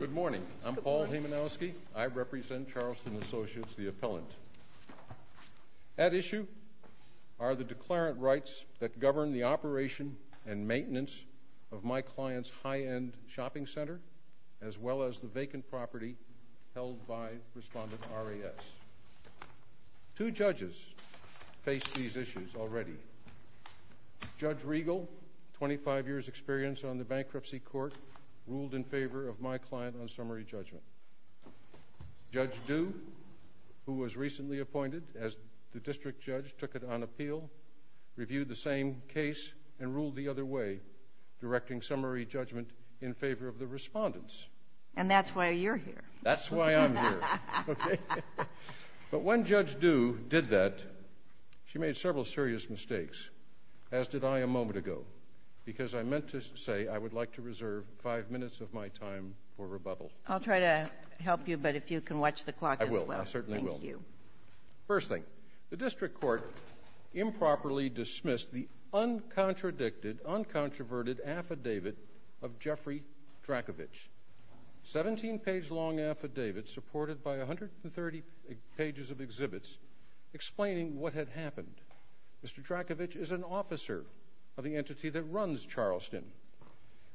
Good morning. I'm Paul Hemanowski. I represent Charleston Associates, the appellant. At issue are the declarant rights that govern the operation and maintenance of my client's high-end shopping center, as well as the vacant property held by Respondent R.A.S. Two judges face these issues already. Judge Riegel, 25 years' experience on the bankruptcy court, ruled in favor of my client on summary judgment. Judge Due, who was recently appointed as the district judge, took it on appeal, reviewed the same case, and ruled the other way, directing summary judgment in favor of the Respondents. And that's why you're here. That's why I'm here. But when Judge Due did that, she made several serious mistakes, as did I a moment ago, because I meant to say I would like to reserve five minutes of my time for rebuttal. I'll try to help you, but if you can watch the clock as well. I will. I certainly will. Thank you. First thing, the district court improperly dismissed the uncontradicted, uncontroverted affidavit of Jeffrey Drakovich. Seventeen-page long affidavit supported by 130 pages of exhibits explaining what had happened. Mr. Drakovich is an officer of the entity that runs Charleston.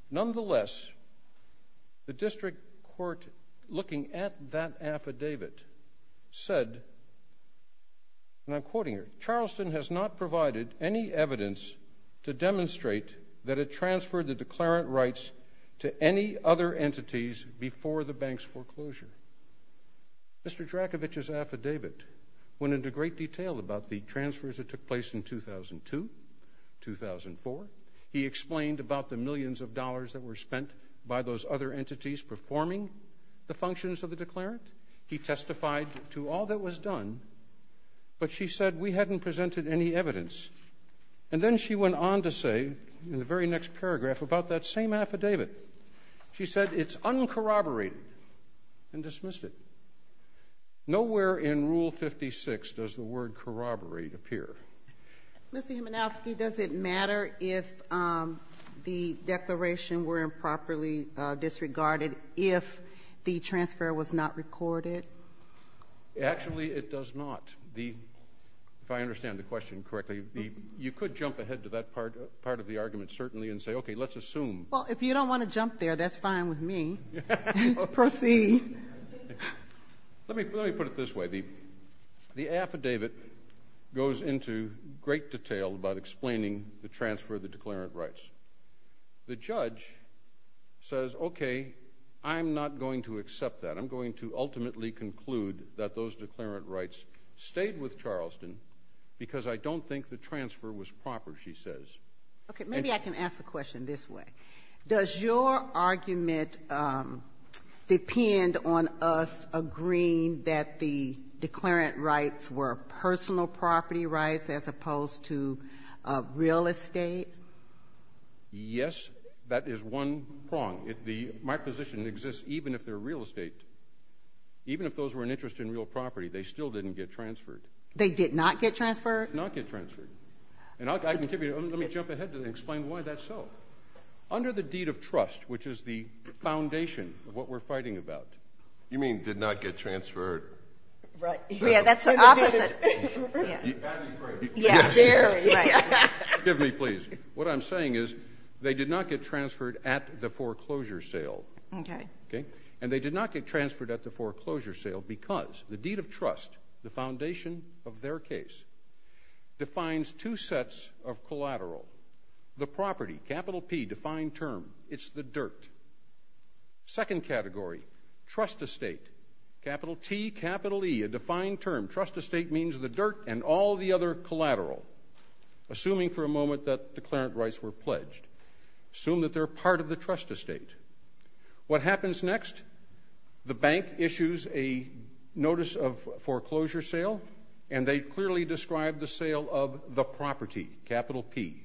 Nonetheless, the district court, looking at that affidavit, said, and I'm quoting here, Charleston has not provided any evidence to demonstrate that it transferred the declarant rights to any other entities before the bank's foreclosure. Mr. Drakovich's affidavit went into great detail about the transfers that took place in 2002, 2004. He explained about the millions of dollars that were spent by those other entities performing the functions of the declarant. He testified to all that was done, but she said, we hadn't presented any evidence. And then she went on to say, in the very next paragraph, about that same affidavit. She said, it's uncorroborated, and dismissed it. Nowhere in Rule 56 does the word corroborate appear. Mr. Himanowski, does it matter if the declaration were improperly disregarded if the transfer was not recorded? Actually, it does not. If I understand the question correctly, you could jump ahead to that part of the argument, certainly, and say, okay, let's assume. Well, if you don't want to jump there, that's fine with me. Proceed. Let me put it this way. The affidavit goes into great detail about explaining the transfer of the declarant rights. The judge says, okay, I'm not going to accept that. I'm going to ultimately conclude that those declarant rights stayed with Charleston because I don't think the transfer was proper, she says. Okay, maybe I can ask the question this way. Does your argument depend on us agreeing that the declarant rights were personal property rights as opposed to real estate? Yes. That is one prong. My position exists even if they're real estate. Even if those were an interest in real property, they still didn't get transferred. They did not get transferred? Did not get transferred. Let me jump ahead and explain why that's so. Under the deed of trust, which is the foundation of what we're fighting about. You mean did not get transferred. Right. Yeah, that's the opposite. Yeah, very. Excuse me, please. What I'm saying is they did not get transferred at the foreclosure sale. Okay. And they did not get transferred at the foreclosure sale because the deed of trust, the foundation of their case, defines two sets of collateral. The property, capital P, defined term, it's the dirt. Second category, trust estate, capital T, capital E, a defined term. Trust estate means the dirt and all the other collateral, assuming for a moment that declarant rights were pledged. Assume that they're part of the trust estate. What happens next? The bank issues a notice of foreclosure sale, and they clearly describe the sale of the property, capital P.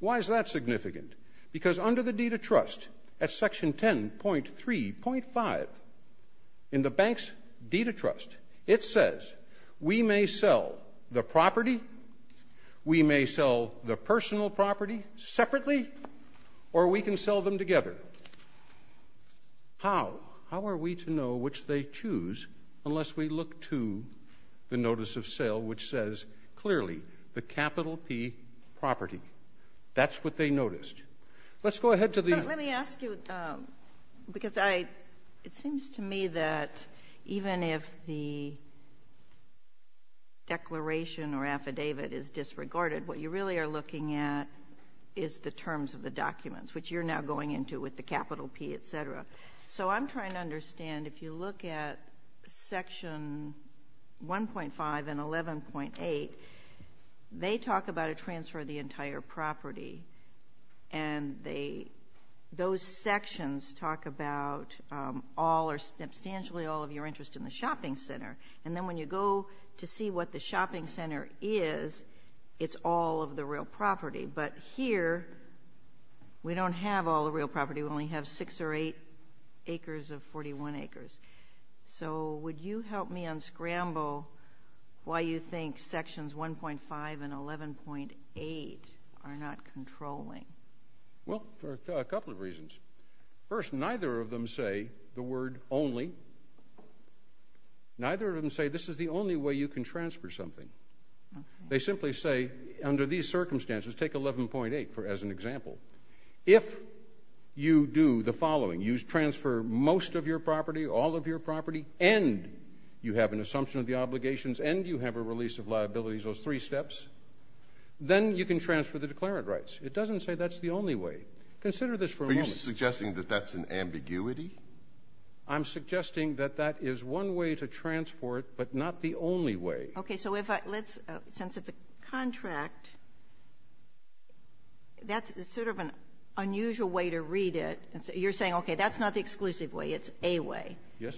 Why is that significant? Because under the deed of trust, at section 10.3.5, in the bank's deed of trust, it says, we may sell the property, we may sell the personal property separately, or we can sell them together. How? How are we to know which they choose unless we look to the notice of sale, which says clearly the capital P property? That's what they noticed. Let's go ahead to the ‑‑ declaration or affidavit is disregarded. What you really are looking at is the terms of the documents, which you're now going into with the capital P, et cetera. So I'm trying to understand, if you look at section 1.5 and 11.8, they talk about a transfer of the entire property, and those sections talk about all or substantially all of your interest in the shopping center. And then when you go to see what the shopping center is, it's all of the real property. But here, we don't have all the real property. We only have six or eight acres of 41 acres. So would you help me unscramble why you think sections 1.5 and 11.8 are not controlling? Well, for a couple of reasons. First, neither of them say the word only. Neither of them say this is the only way you can transfer something. They simply say, under these circumstances, take 11.8 as an example. If you do the following, you transfer most of your property, all of your property, and you have an assumption of the obligations, and you have a release of liabilities, those three steps, then you can transfer the declarant rights. It doesn't say that's the only way. Consider this for a moment. Are you suggesting that that's an ambiguity? I'm suggesting that that is one way to transfer it, but not the only way. Okay. So since it's a contract, that's sort of an unusual way to read it. You're saying, okay, that's not the exclusive way. It's a way. Yes.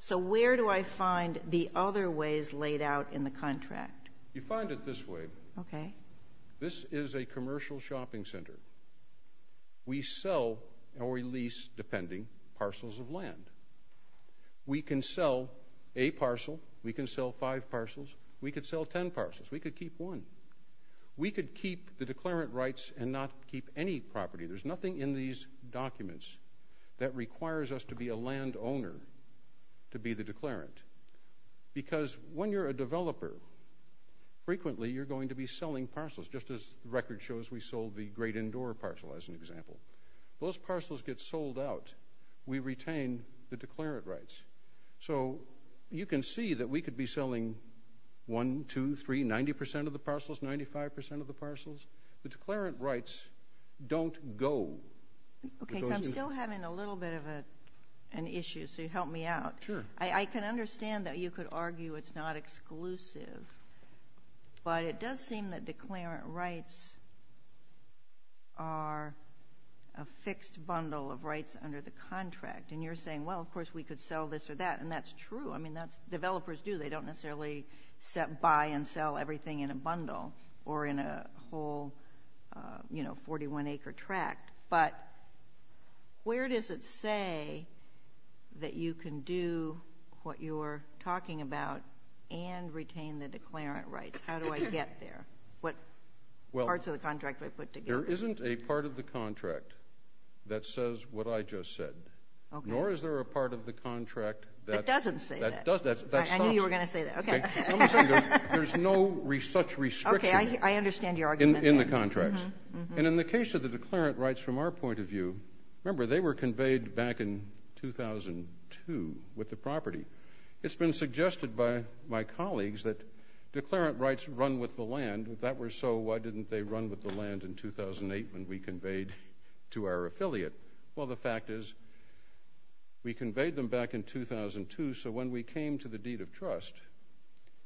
So where do I find the other ways laid out in the contract? You find it this way. Okay. This is a commercial shopping center. We sell or we lease, depending, parcels of land. We can sell a parcel. We can sell five parcels. We could sell ten parcels. We could keep one. We could keep the declarant rights and not keep any property. There's nothing in these documents that requires us to be a landowner to be the declarant, because when you're a developer, frequently you're going to be selling parcels, just as the record shows we sold the Great Indoor parcel, as an example. Those parcels get sold out. We retain the declarant rights. So you can see that we could be selling one, two, three, 90 percent of the parcels, 95 percent of the parcels. The declarant rights don't go. Okay, so I'm still having a little bit of an issue, so help me out. Sure. I can understand that you could argue it's not exclusive, but it does seem that declarant rights are a fixed bundle of rights under the contract, and you're saying, well, of course, we could sell this or that, and that's true. I mean, developers do. They don't necessarily buy and sell everything in a bundle or in a whole 41-acre tract. But where does it say that you can do what you're talking about and retain the declarant rights? How do I get there? What parts of the contract do I put together? There isn't a part of the contract that says what I just said, nor is there a part of the contract that stops it. It doesn't say that. I knew you were going to say that. Okay. There's no such restriction in the contracts. Okay, I understand your argument there. And in the case of the declarant rights from our point of view, remember they were conveyed back in 2002 with the property. It's been suggested by my colleagues that declarant rights run with the land. If that were so, why didn't they run with the land in 2008 when we conveyed to our affiliate? Well, the fact is we conveyed them back in 2002, so when we came to the deed of trust,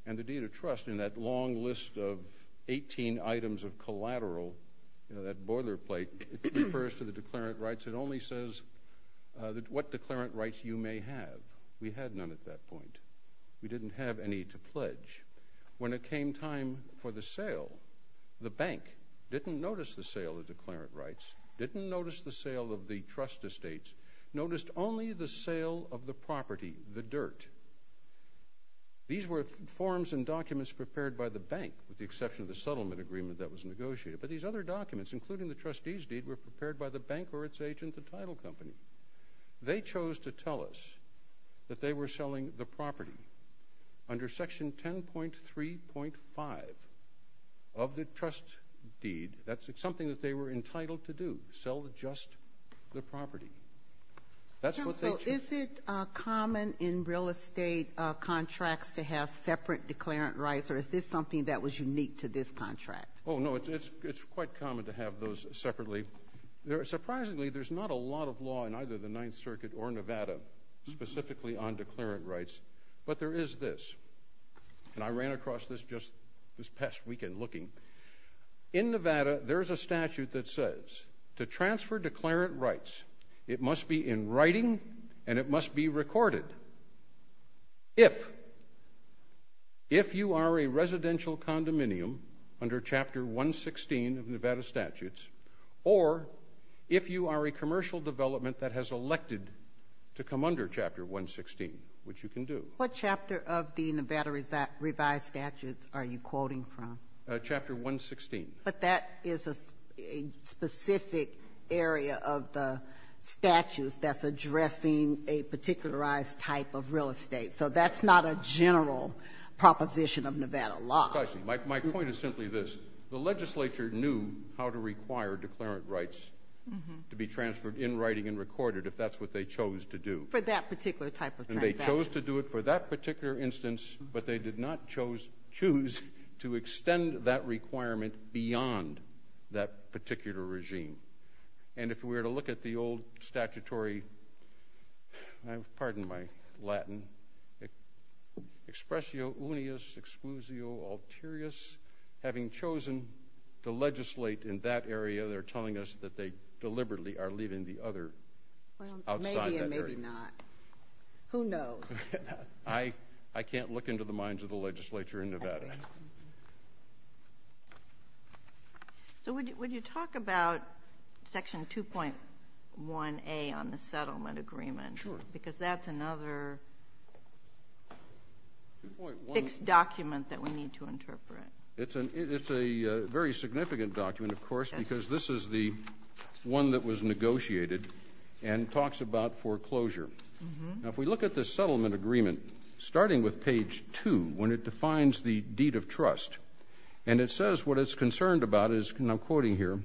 and the deed of trust in that long list of 18 items of collateral, that boilerplate, it refers to the declarant rights. It only says what declarant rights you may have. We had none at that point. We didn't have any to pledge. When it came time for the sale, the bank didn't notice the sale of declarant rights, didn't notice the sale of the trust estates, noticed only the sale of the property, the dirt. These were forms and documents prepared by the bank, with the exception of the settlement agreement that was negotiated. But these other documents, including the trustee's deed, were prepared by the bank or its agent, the title company. They chose to tell us that they were selling the property. Under section 10.3.5 of the trust deed, that's something that they were entitled to do, sell just the property. That's what they chose. Counsel, is it common in real estate contracts to have separate declarant rights, or is this something that was unique to this contract? Oh, no, it's quite common to have those separately. Surprisingly, there's not a lot of law in either the Ninth Circuit or Nevada specifically on declarant rights, but there is this, and I ran across this just this past weekend looking. In Nevada, there's a statute that says to transfer declarant rights, it must be in writing and it must be recorded. If you are a residential condominium under Chapter 116 of Nevada statutes, or if you are a commercial development that has elected to come under Chapter 116, which you can do. What chapter of the Nevada revised statutes are you quoting from? Chapter 116. But that is a specific area of the statutes that's addressing a particularized type of real estate, so that's not a general proposition of Nevada law. My point is simply this. The legislature knew how to require declarant rights to be transferred in writing and recorded if that's what they chose to do. For that particular type of transaction. They chose to do it for that particular instance, but they did not choose to extend that requirement beyond that particular regime. And if we were to look at the old statutory, pardon my Latin, expressio unius exclusio alterius, having chosen to legislate in that area, they're telling us that they deliberately are leaving the other outside that area. Who knows? I can't look into the minds of the legislature in Nevada. So would you talk about Section 2.1A on the settlement agreement? Sure. Because that's another fixed document that we need to interpret. It's a very significant document, of course, because this is the one that was negotiated and talks about foreclosure. Now, if we look at the settlement agreement, starting with page 2 when it defines the deed of trust, and it says what it's concerned about is, and I'm quoting here,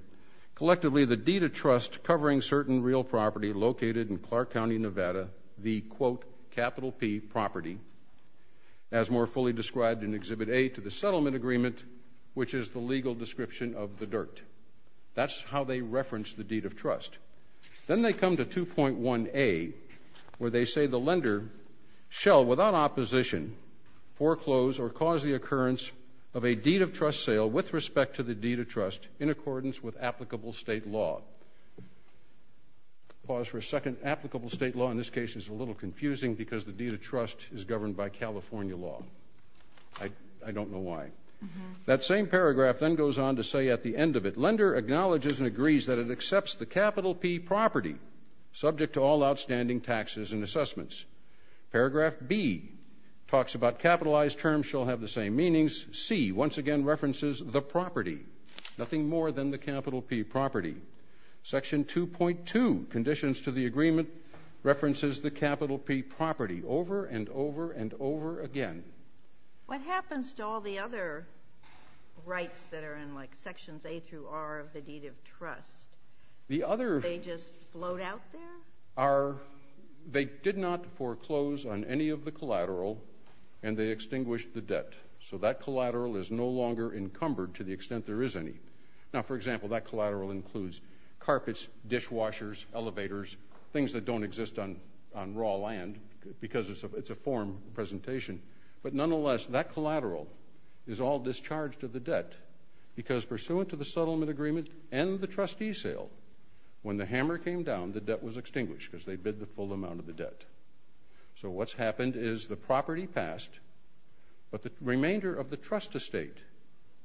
collectively the deed of trust covering certain real property located in Clark County, Nevada, the, quote, capital P property, as more fully described in Exhibit A to the settlement agreement, which is the legal description of the dirt. That's how they reference the deed of trust. Then they come to 2.1A where they say the lender shall, without opposition, foreclose or cause the occurrence of a deed of trust sale with respect to the deed of trust in accordance with applicable state law. Pause for a second. Applicable state law in this case is a little confusing because the deed of trust is governed by California law. I don't know why. That same paragraph then goes on to say at the end of it, lender acknowledges and agrees that it accepts the capital P property, subject to all outstanding taxes and assessments. Paragraph B talks about capitalized terms shall have the same meanings. C once again references the property, nothing more than the capital P property. Section 2.2, conditions to the agreement, references the capital P property over and over and over again. What happens to all the other rights that are in, like, sections A through R of the deed of trust? They just float out there? They did not foreclose on any of the collateral, and they extinguished the debt. So that collateral is no longer encumbered to the extent there is any. Now, for example, that collateral includes carpets, dishwashers, elevators, things that don't exist on raw land because it's a form presentation. But nonetheless, that collateral is all discharged of the debt because pursuant to the settlement agreement and the trustee sale, when the hammer came down, the debt was extinguished because they bid the full amount of the debt. So what's happened is the property passed, but the remainder of the trust estate,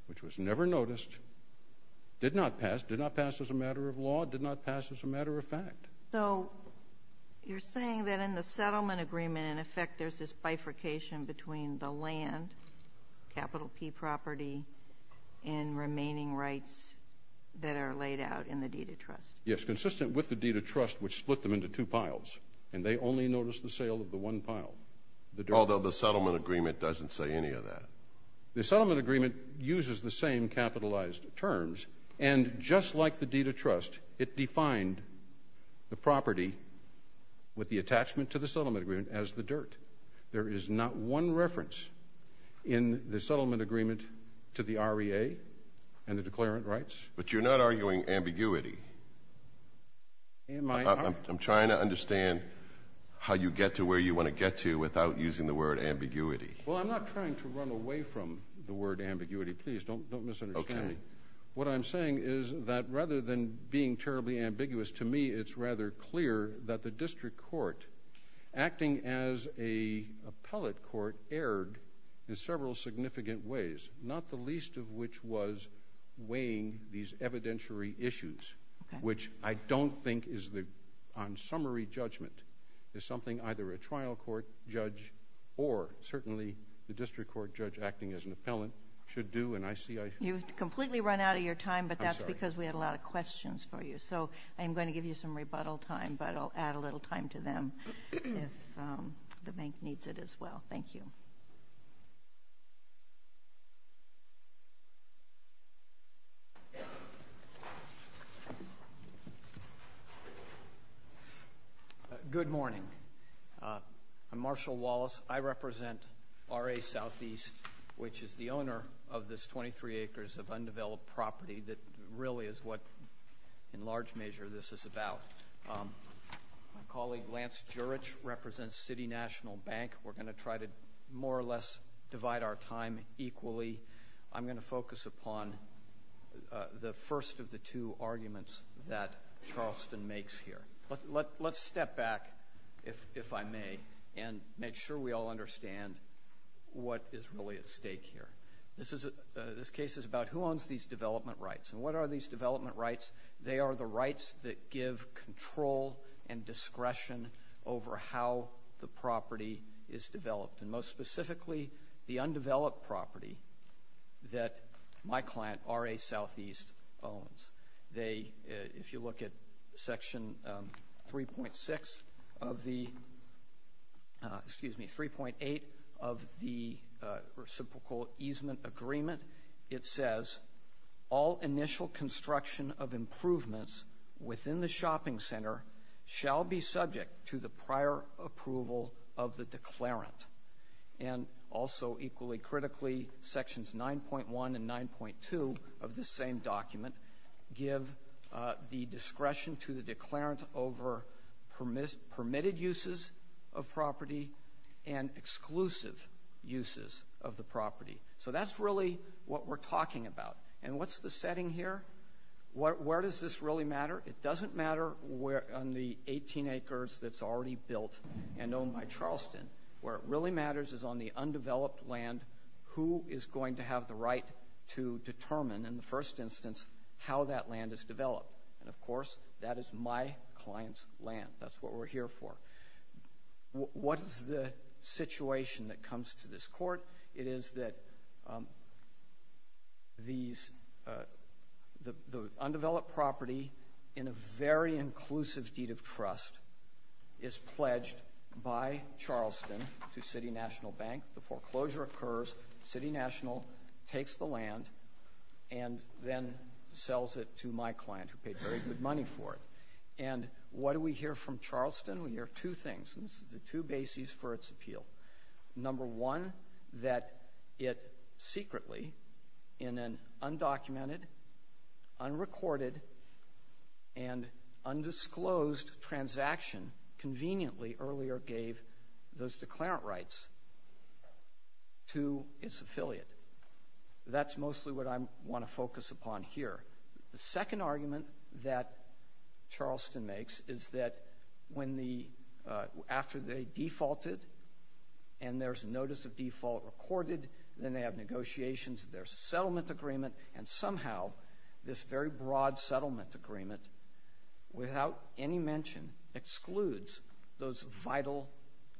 which was never noticed, did not pass, as a matter of law, did not pass as a matter of fact. So you're saying that in the settlement agreement, in effect, there's this bifurcation between the land, capital P property, and remaining rights that are laid out in the deed of trust. Yes, consistent with the deed of trust, which split them into two piles, and they only noticed the sale of the one pile. Although the settlement agreement doesn't say any of that. The settlement agreement uses the same capitalized terms, and just like the deed of trust, it defined the property with the attachment to the settlement agreement as the dirt. There is not one reference in the settlement agreement to the REA and the declarant rights. But you're not arguing ambiguity. I'm trying to understand how you get to where you want to get to without using the word ambiguity. Well, I'm not trying to run away from the word ambiguity. Please, don't misunderstand me. Okay. What I'm saying is that rather than being terribly ambiguous, to me it's rather clear that the district court, acting as an appellate court, erred in several significant ways, not the least of which was weighing these evidentiary issues, which I don't think is, on summary judgment, is something either a trial court judge or certainly the district court judge acting as an appellant should do. You've completely run out of your time, but that's because we had a lot of questions for you. So I'm going to give you some rebuttal time, but I'll add a little time to them if the bank needs it as well. Thank you. Good morning. I'm Marshall Wallace. I represent RA Southeast, which is the owner of this 23 acres of undeveloped property that really is what, in large measure, this is about. My colleague, Lance Jurich, represents City National Bank. We're going to try to more or less divide our time equally. I'm going to focus upon the first of the two arguments that Charleston makes here. Let's step back, if I may, and make sure we all understand what is really at stake here. This case is about who owns these development rights, and what are these development rights? They are the rights that give control and discretion over how the property is developed, and most specifically, the undeveloped property that my client, RA Southeast, owns. If you look at Section 3.8 of the Reciprocal Easement Agreement, it says all initial construction of improvements within the shopping center shall be subject to the prior approval of the declarant. Also, equally critically, Sections 9.1 and 9.2 of the same document give the discretion to the declarant over permitted uses of property and exclusive uses of the property. That's really what we're talking about. What's the setting here? Where does this really matter? It doesn't matter on the 18 acres that's already built and owned by Charleston, where it really matters is on the undeveloped land, who is going to have the right to determine, in the first instance, how that land is developed. And, of course, that is my client's land. That's what we're here for. What is the situation that comes to this court? It is that the undeveloped property, in a very inclusive deed of trust, is pledged by Charleston to City National Bank. The foreclosure occurs. City National takes the land and then sells it to my client, who paid very good money for it. And what do we hear from Charleston? We hear two things, and this is the two bases for its appeal. Number one, that it secretly, in an undocumented, unrecorded, and undisclosed transaction, conveniently earlier gave those declarant rights to its affiliate. That's mostly what I want to focus upon here. The second argument that Charleston makes is that after they defaulted and there's a notice of default recorded, then they have negotiations, there's a settlement agreement, and somehow this very broad settlement agreement, without any mention, excludes those vital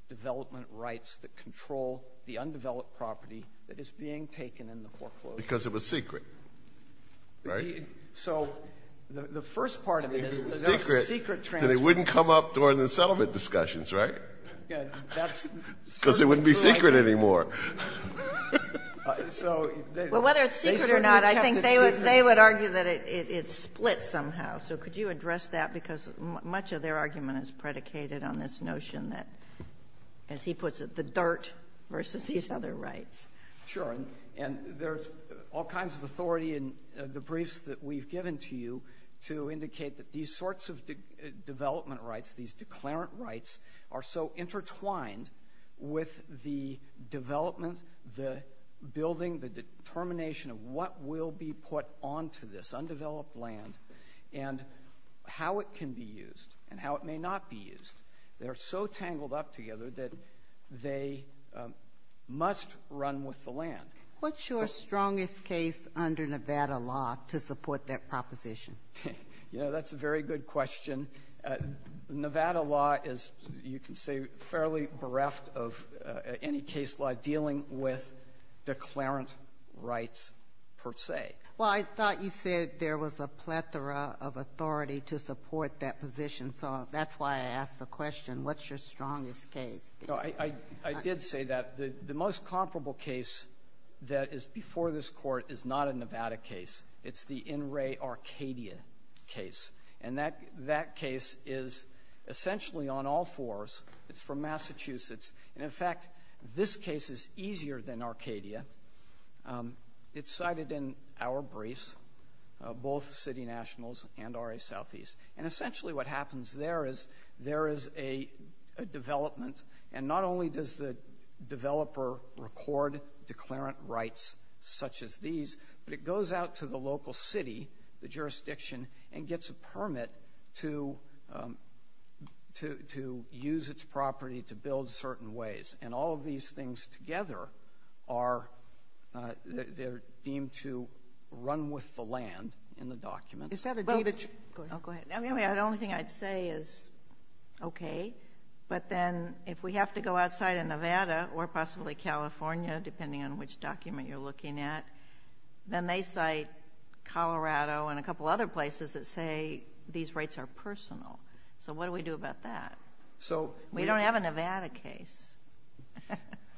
development rights that control the undeveloped property that is being taken in the foreclosure. Because it was secret, right? So the first part of it is that that's a secret transaction. It wouldn't come up during the settlement discussions, right? Because it wouldn't be secret anymore. So they certainly kept it secret. Well, whether it's secret or not, I think they would argue that it's split somehow. So could you address that? Because much of their argument is predicated on this notion that, as he puts it, the dirt versus these other rights. Sure. And there's all kinds of authority in the briefs that we've given to you to indicate that these sorts of development rights, these declarant rights, are so intertwined with the development, the building, the determination of what will be put onto this undeveloped land and how it can be used and how it may not be used. They are so tangled up together that they must run with the land. What's your strongest case under Nevada law to support that proposition? You know, that's a very good question. Nevada law is, you can say, fairly bereft of any case law dealing with declarant rights per se. Well, I thought you said there was a plethora of authority to support that position, so that's why I asked the question. What's your strongest case? I did say that. The most comparable case that is before this Court is not a Nevada case. It's the In re Arcadia case. And that case is essentially on all fours. It's from Massachusetts. And, in fact, this case is easier than Arcadia. It's cited in our briefs, both city nationals and RA Southeast. And essentially what happens there is there is a development, and not only does the developer record declarant rights such as these, but it goes out to the local city, the jurisdiction, and gets a permit to use its property to build certain ways. And all of these things together are deemed to run with the land in the document. Is that a data check? Go ahead. The only thing I'd say is, okay, but then if we have to go outside of Nevada or possibly California, depending on which document you're looking at, then they cite Colorado and a couple other places that say these rights are personal. So what do we do about that? We don't have a Nevada case.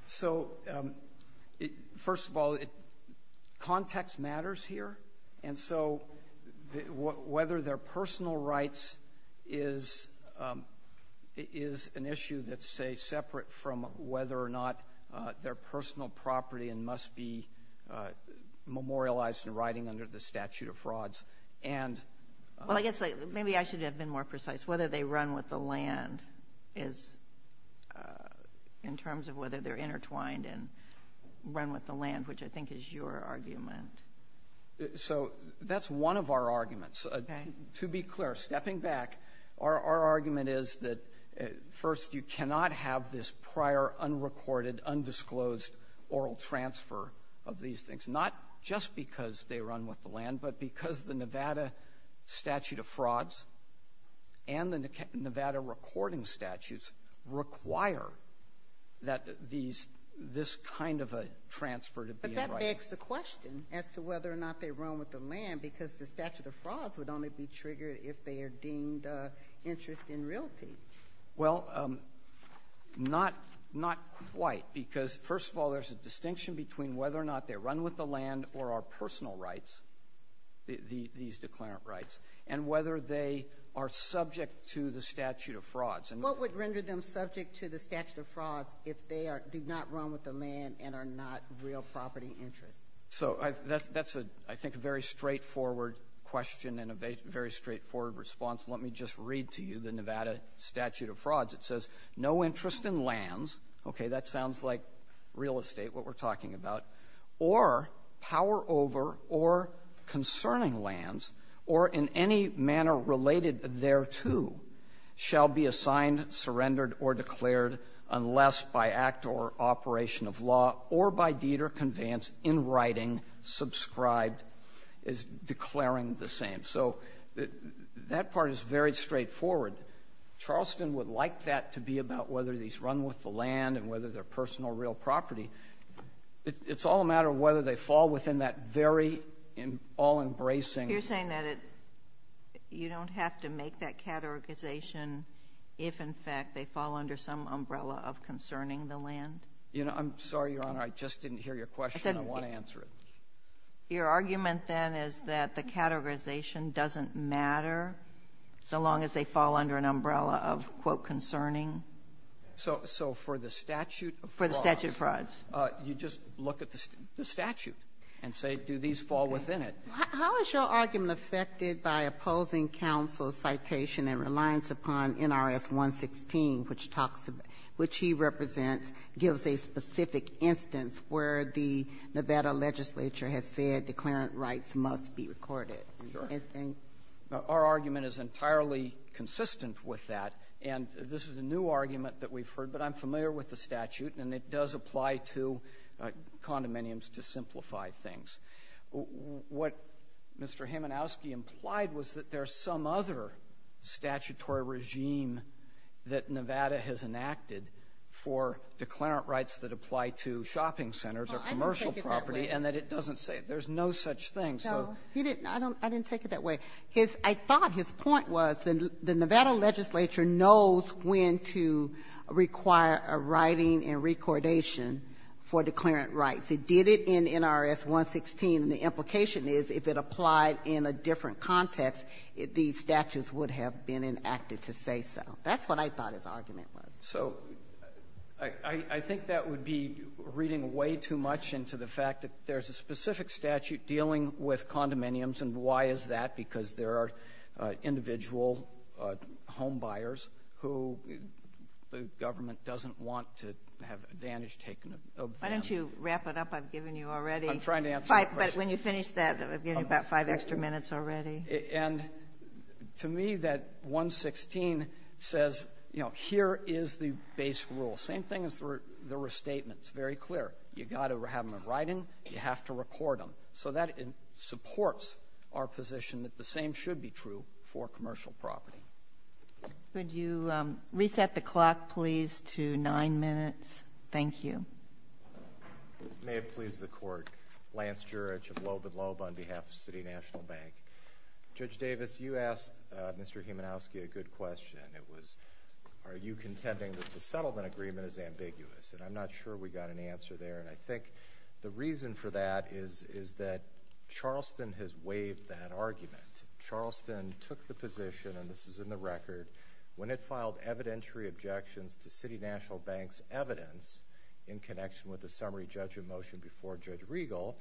So, first of all, context matters here. And so whether they're personal rights is an issue that's, say, whether or not they're personal property and must be memorialized in writing under the statute of frauds. Well, I guess maybe I should have been more precise. Whether they run with the land is in terms of whether they're intertwined and run with the land, which I think is your argument. So that's one of our arguments. To be clear, stepping back, our argument is that, first, you cannot have this prior unrecorded, undisclosed oral transfer of these things, not just because they run with the land, but because the Nevada statute of frauds and the Nevada recording statutes require that this kind of a transfer to be in writing. But that begs the question as to whether or not they run with the land, because the statute of frauds would only be triggered if they are deemed interest in realty. Well, not quite, because, first of all, there's a distinction between whether or not they run with the land or are personal rights, these declarant rights, and whether they are subject to the statute of frauds. What would render them subject to the statute of frauds if they do not run with the land and are not real property interests? So that's a, I think, a very straightforward question and a very straightforward response. Let me just read to you the Nevada statute of frauds. It says, No interest in lands, okay, that sounds like real estate, what we're talking about, or power over or concerning lands or in any manner related thereto shall be assigned, surrendered, or declared unless by act or operation of law or by deed or conveyance in writing, subscribed, is declaring the same. So that part is very straightforward. Charleston would like that to be about whether these run with the land and whether they're personal or real property. It's all a matter of whether they fall within that very all-embracing You're saying that you don't have to make that categorization if, in fact, they fall under some umbrella of concerning the land? You know, I'm sorry, Your Honor, I just didn't hear your question. I want to answer it. Your argument, then, is that the categorization doesn't matter so long as they fall under an umbrella of, quote, concerning? So for the statute of frauds. For the statute of frauds. You just look at the statute and say, do these fall within it? How is your argument affected by opposing counsel's citation and reliance upon NRS 116, which talks about — which he represents, gives a specific instance where the Nevada legislature has said declarant rights must be recorded? Our argument is entirely consistent with that. And this is a new argument that we've heard, but I'm familiar with the statute, and it does apply to condominiums to simplify things. What Mr. Himenowski implied was that there's some other statutory regime that Nevada has enacted for declarant rights that apply to shopping centers or commercial property, and that it doesn't say it. There's no such thing. No. I didn't take it that way. I thought his point was the Nevada legislature knows when to require a writing and recordation for declarant rights. It did it in NRS 116, and the implication is if it applied in a different context, these statutes would have been enacted to say so. That's what I thought his argument was. So I think that would be reading way too much into the fact that there's a specific statute dealing with condominiums, and why is that? Because there are individual homebuyers who the government doesn't want to have advantage taken advantage of. Why don't you wrap it up? I've given you already. I'm trying to answer the question. But when you finish that, I've given you about five extra minutes already. And to me, that 116 says, you know, here is the base rule. Same thing as the restatement. It's very clear. You've got to have them in writing. You have to record them. So that supports our position that the same should be true for commercial property. Could you reset the clock, please, to nine minutes? Thank you. May it please the Court. Lance Jurich of Loeb & Loeb on behalf of City National Bank. Judge Davis, you asked Mr. Humanowski a good question. It was, are you contending that the settlement agreement is ambiguous? And I'm not sure we got an answer there. And I think the reason for that is that Charleston has waived that argument. Charleston took the position, and this is in the record, when it filed evidentiary objections to City National Bank's evidence in connection with the summary judgment motion before Judge Riegel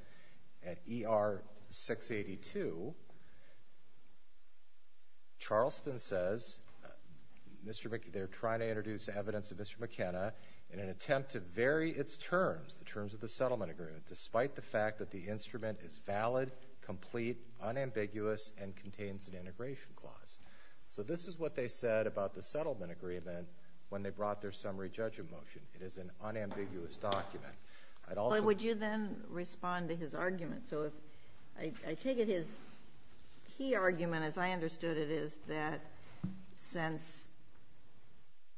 at ER 682, Charleston says, they're trying to introduce evidence of Mr. McKenna in an attempt to vary its terms, the terms of the settlement agreement, despite the fact that the instrument is valid, complete, unambiguous, and contains an integration clause. So this is what they said about the settlement agreement when they brought their summary judgment motion. It is an unambiguous document. Would you then respond to his argument? So I take it his key argument, as I understood it, is that since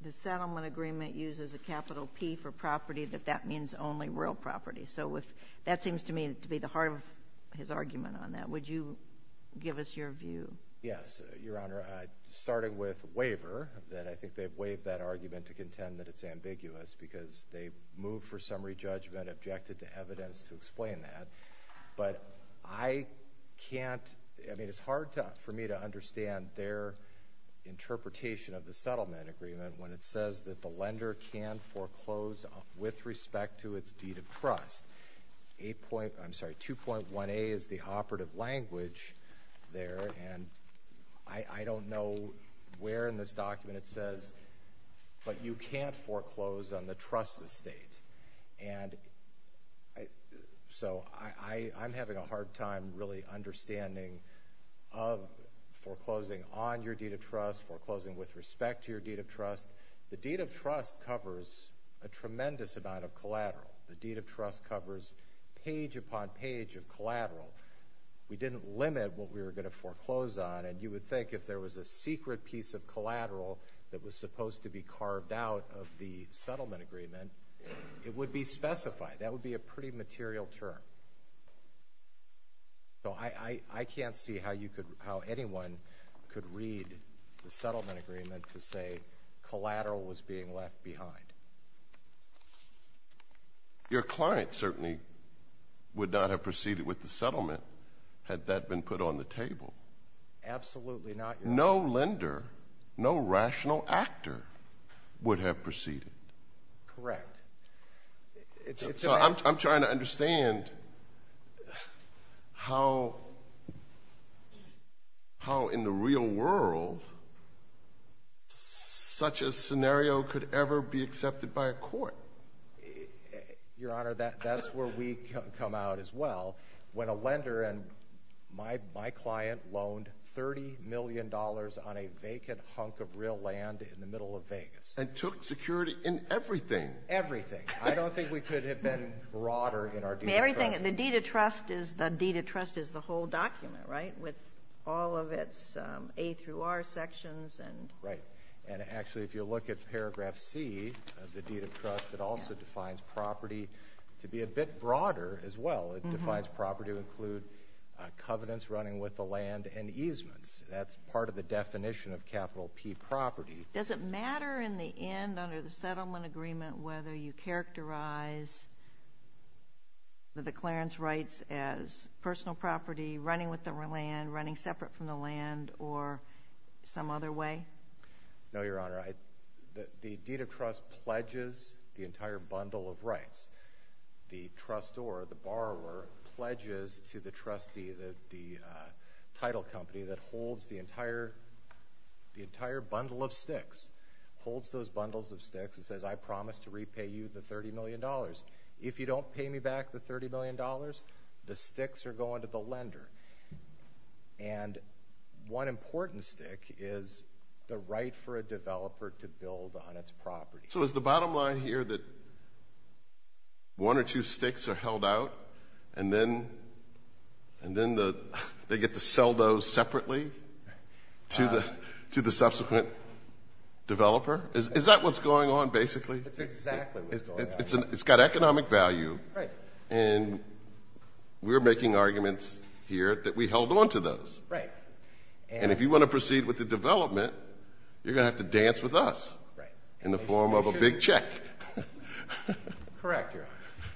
the settlement agreement uses a capital P for property, that that means only real property. So that seems to me to be the heart of his argument on that. Would you give us your view? Yes, Your Honor, starting with waiver, that I think they've waived that argument to contend that it's ambiguous because they moved for summary judgment, objected to evidence to explain that. But I can't, I mean, it's hard for me to understand their interpretation of the settlement agreement when it says that the lender can foreclose with respect to its deed of trust. I'm sorry, 2.1a is the operative language there, and I don't know where in this document it says, but you can't foreclose on the trust estate. And so I'm having a hard time really understanding foreclosing on your deed of trust, foreclosing with respect to your deed of trust. The deed of trust covers a tremendous amount of collateral. The deed of trust covers page upon page of collateral. We didn't limit what we were going to foreclose on, and you would think if there was a secret piece of collateral that was supposed to be carved out of the settlement agreement, it would be specified. That would be a pretty material term. So I can't see how anyone could read the settlement agreement to say collateral was being left behind. Your client certainly would not have proceeded with the settlement had that been put on the table. Absolutely not. No lender, no rational actor would have proceeded. Correct. I'm trying to understand how in the real world such a scenario could ever be accepted by a court. Your Honor, that's where we come out as well. When a lender and my client loaned $30 million on a vacant hunk of real land in the middle of Vegas. And took security in everything. Everything. I don't think we could have been broader in our deed of trust. The deed of trust is the whole document, right, with all of its A through R sections. Right. And actually if you look at paragraph C of the deed of trust, it also defines property to be a bit broader as well. It defines property to include covenants running with the land and easements. That's part of the definition of capital P property. Does it matter in the end under the settlement agreement whether you characterize the declarence rights as personal property, running with the land, running separate from the land, or some other way? No, Your Honor. The deed of trust pledges the entire bundle of rights. The trustor, the borrower, pledges to the trustee, the title company, that holds the entire bundle of sticks. Holds those bundles of sticks and says, I promise to repay you the $30 million. If you don't pay me back the $30 million, the sticks are going to the lender. And one important stick is the right for a developer to build on its property. So is the bottom line here that one or two sticks are held out and then they get to sell those separately to the subsequent developer? Is that what's going on basically? That's exactly what's going on. It's got economic value. And we're making arguments here that we held on to those. And if you want to proceed with the development, you're going to have to dance with us in the form of a big check. Correct, Your Honor.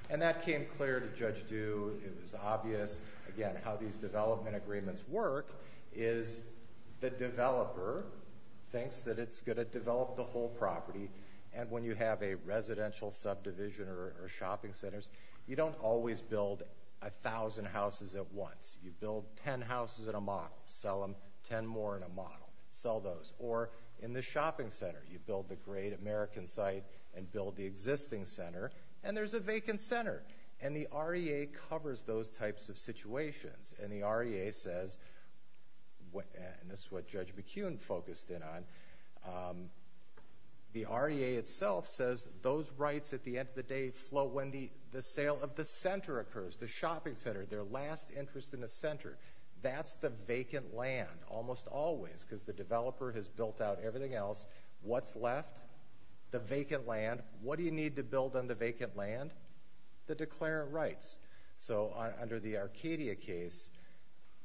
And that came clear to Judge Due. It was obvious, again, how these development agreements work, is the developer thinks that it's going to develop the whole property. And when you have a residential subdivision or shopping centers, you don't always build 1,000 houses at once. Sell those. Or in the shopping center, you build the great American site and build the existing center, and there's a vacant center. And the REA covers those types of situations. And the REA says, and this is what Judge McKeown focused in on, the REA itself says those rights at the end of the day flow when the sale of the center occurs, the shopping center, their last interest in the center. That's the vacant land almost always, because the developer has built out everything else. What's left? The vacant land. What do you need to build on the vacant land? The declarant rights. So under the Arcadia case,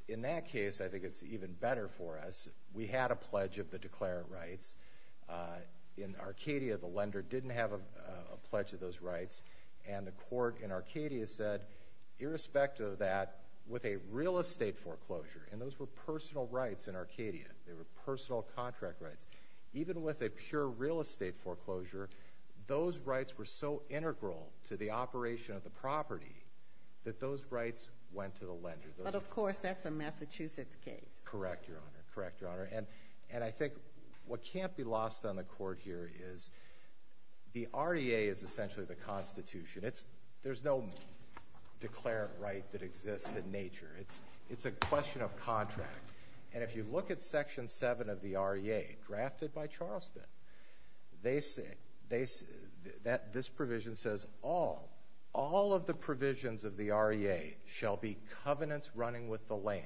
in that case, I think it's even better for us. We had a pledge of the declarant rights. In Arcadia, the lender didn't have a pledge of those rights. And the court in Arcadia said, irrespective of that, with a real estate foreclosure, and those were personal rights in Arcadia, they were personal contract rights, even with a pure real estate foreclosure, those rights were so integral to the operation of the property that those rights went to the lender. But, of course, that's a Massachusetts case. Correct, Your Honor. And I think what can't be lost on the court here is the REA is essentially the Constitution. There's no declarant right that exists in nature. It's a question of contract. And if you look at Section 7 of the REA, drafted by Charleston, this provision says, all of the provisions of the REA shall be covenants running with the land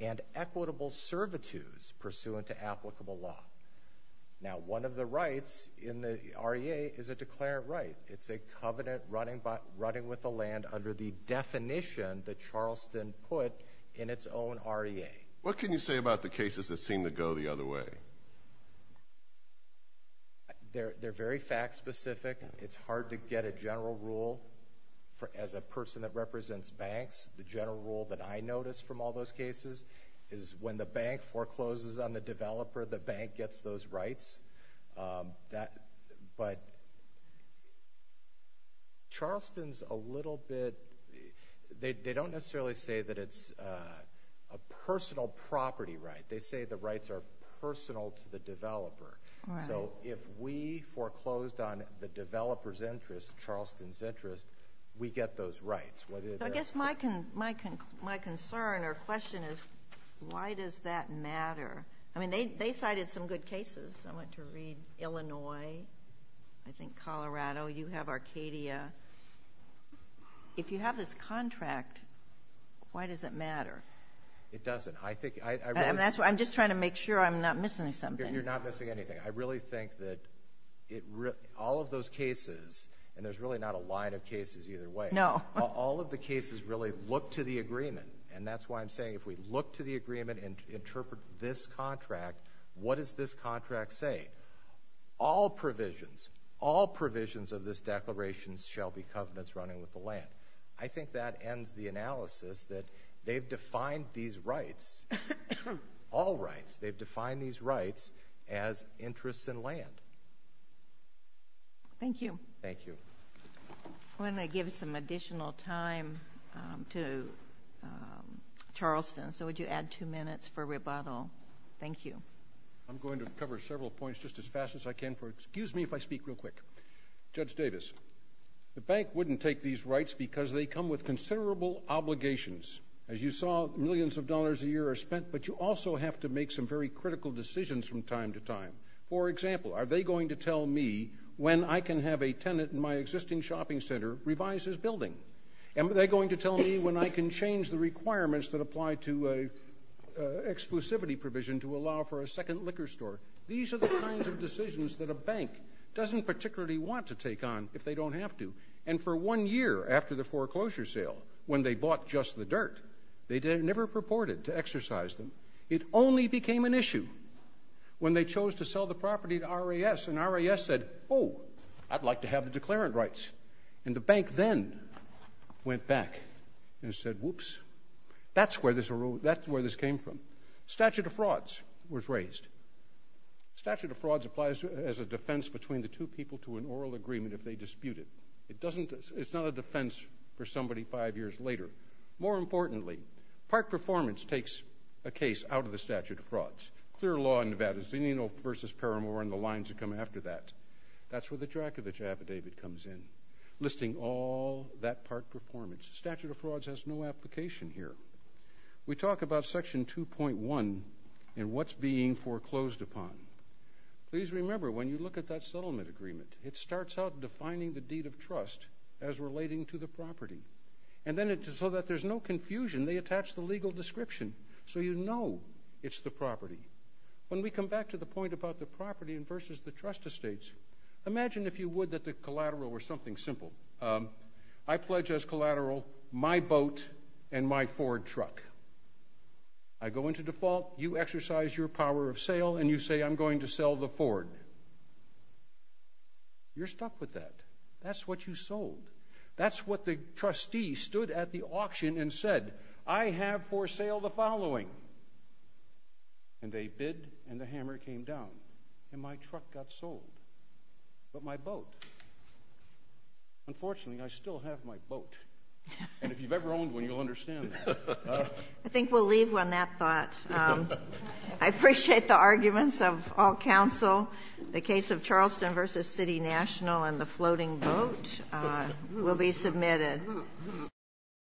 and equitable servitudes pursuant to applicable law. Now, one of the rights in the REA is a declarant right. It's a covenant running with the land under the definition that Charleston put in its own REA. What can you say about the cases that seem to go the other way? They're very fact-specific. It's hard to get a general rule. As a person that represents banks, the general rule that I notice from all those cases is when the bank forecloses on the developer, the bank gets those rights. But Charleston's a little bit— they don't necessarily say that it's a personal property right. They say the rights are personal to the developer. So if we foreclosed on the developer's interest, Charleston's interest, we get those rights. I guess my concern or question is why does that matter? I mean, they cited some good cases. I went to read Illinois, I think Colorado. You have Arcadia. If you have this contract, why does it matter? It doesn't. I'm just trying to make sure I'm not missing something. You're not missing anything. I really think that all of those cases, and there's really not a line of cases either way, all of the cases really look to the agreement. And that's why I'm saying if we look to the agreement and interpret this contract, what does this contract say? All provisions, all provisions of this declaration shall be covenants running with the land. I think that ends the analysis that they've defined these rights, all rights, they've defined these rights as interests in land. Thank you. Thank you. I'm going to give some additional time to Charleston, so would you add two minutes for rebuttal? Thank you. I'm going to cover several points just as fast as I can. Excuse me if I speak real quick. Judge Davis, the bank wouldn't take these rights because they come with considerable obligations. As you saw, millions of dollars a year are spent, but you also have to make some very critical decisions from time to time. For example, are they going to tell me when I can have a tenant in my existing shopping center revise his building? Are they going to tell me when I can change the requirements that apply to exclusivity provision to allow for a second liquor store? These are the kinds of decisions that a bank doesn't particularly want to take on if they don't have to. And for one year after the foreclosure sale, when they bought just the dirt, they never purported to exercise them. It only became an issue when they chose to sell the property to RAS, and RAS said, oh, I'd like to have the declarant rights. And the bank then went back and said, whoops, that's where this came from. Statute of Frauds was raised. Statute of Frauds applies as a defense between the two people to an oral agreement if they dispute it. It's not a defense for somebody five years later. More importantly, Park Performance takes a case out of the Statute of Frauds. Clear law in Nevada, Zinino v. Paramore, and the lines that come after that. That's where the Drakovich Affidavit comes in, listing all that Park Performance. Statute of Frauds has no application here. We talk about Section 2.1 and what's being foreclosed upon. Please remember, when you look at that settlement agreement, it starts out defining the deed of trust as relating to the property. And then so that there's no confusion, they attach the legal description so you know it's the property. When we come back to the point about the property versus the trust estates, imagine if you would that the collateral were something simple. I pledge as collateral my boat and my Ford truck. I go into default, you exercise your power of sale, and you say I'm going to sell the Ford. You're stuck with that. That's what you sold. That's what the trustee stood at the auction and said. I have for sale the following. And they bid, and the hammer came down, and my truck got sold. But my boat. Unfortunately, I still have my boat. And if you've ever owned one, you'll understand that. I think we'll leave on that thought. I appreciate the arguments of all counsel. The case of Charleston v. City National and the floating boat will be submitted.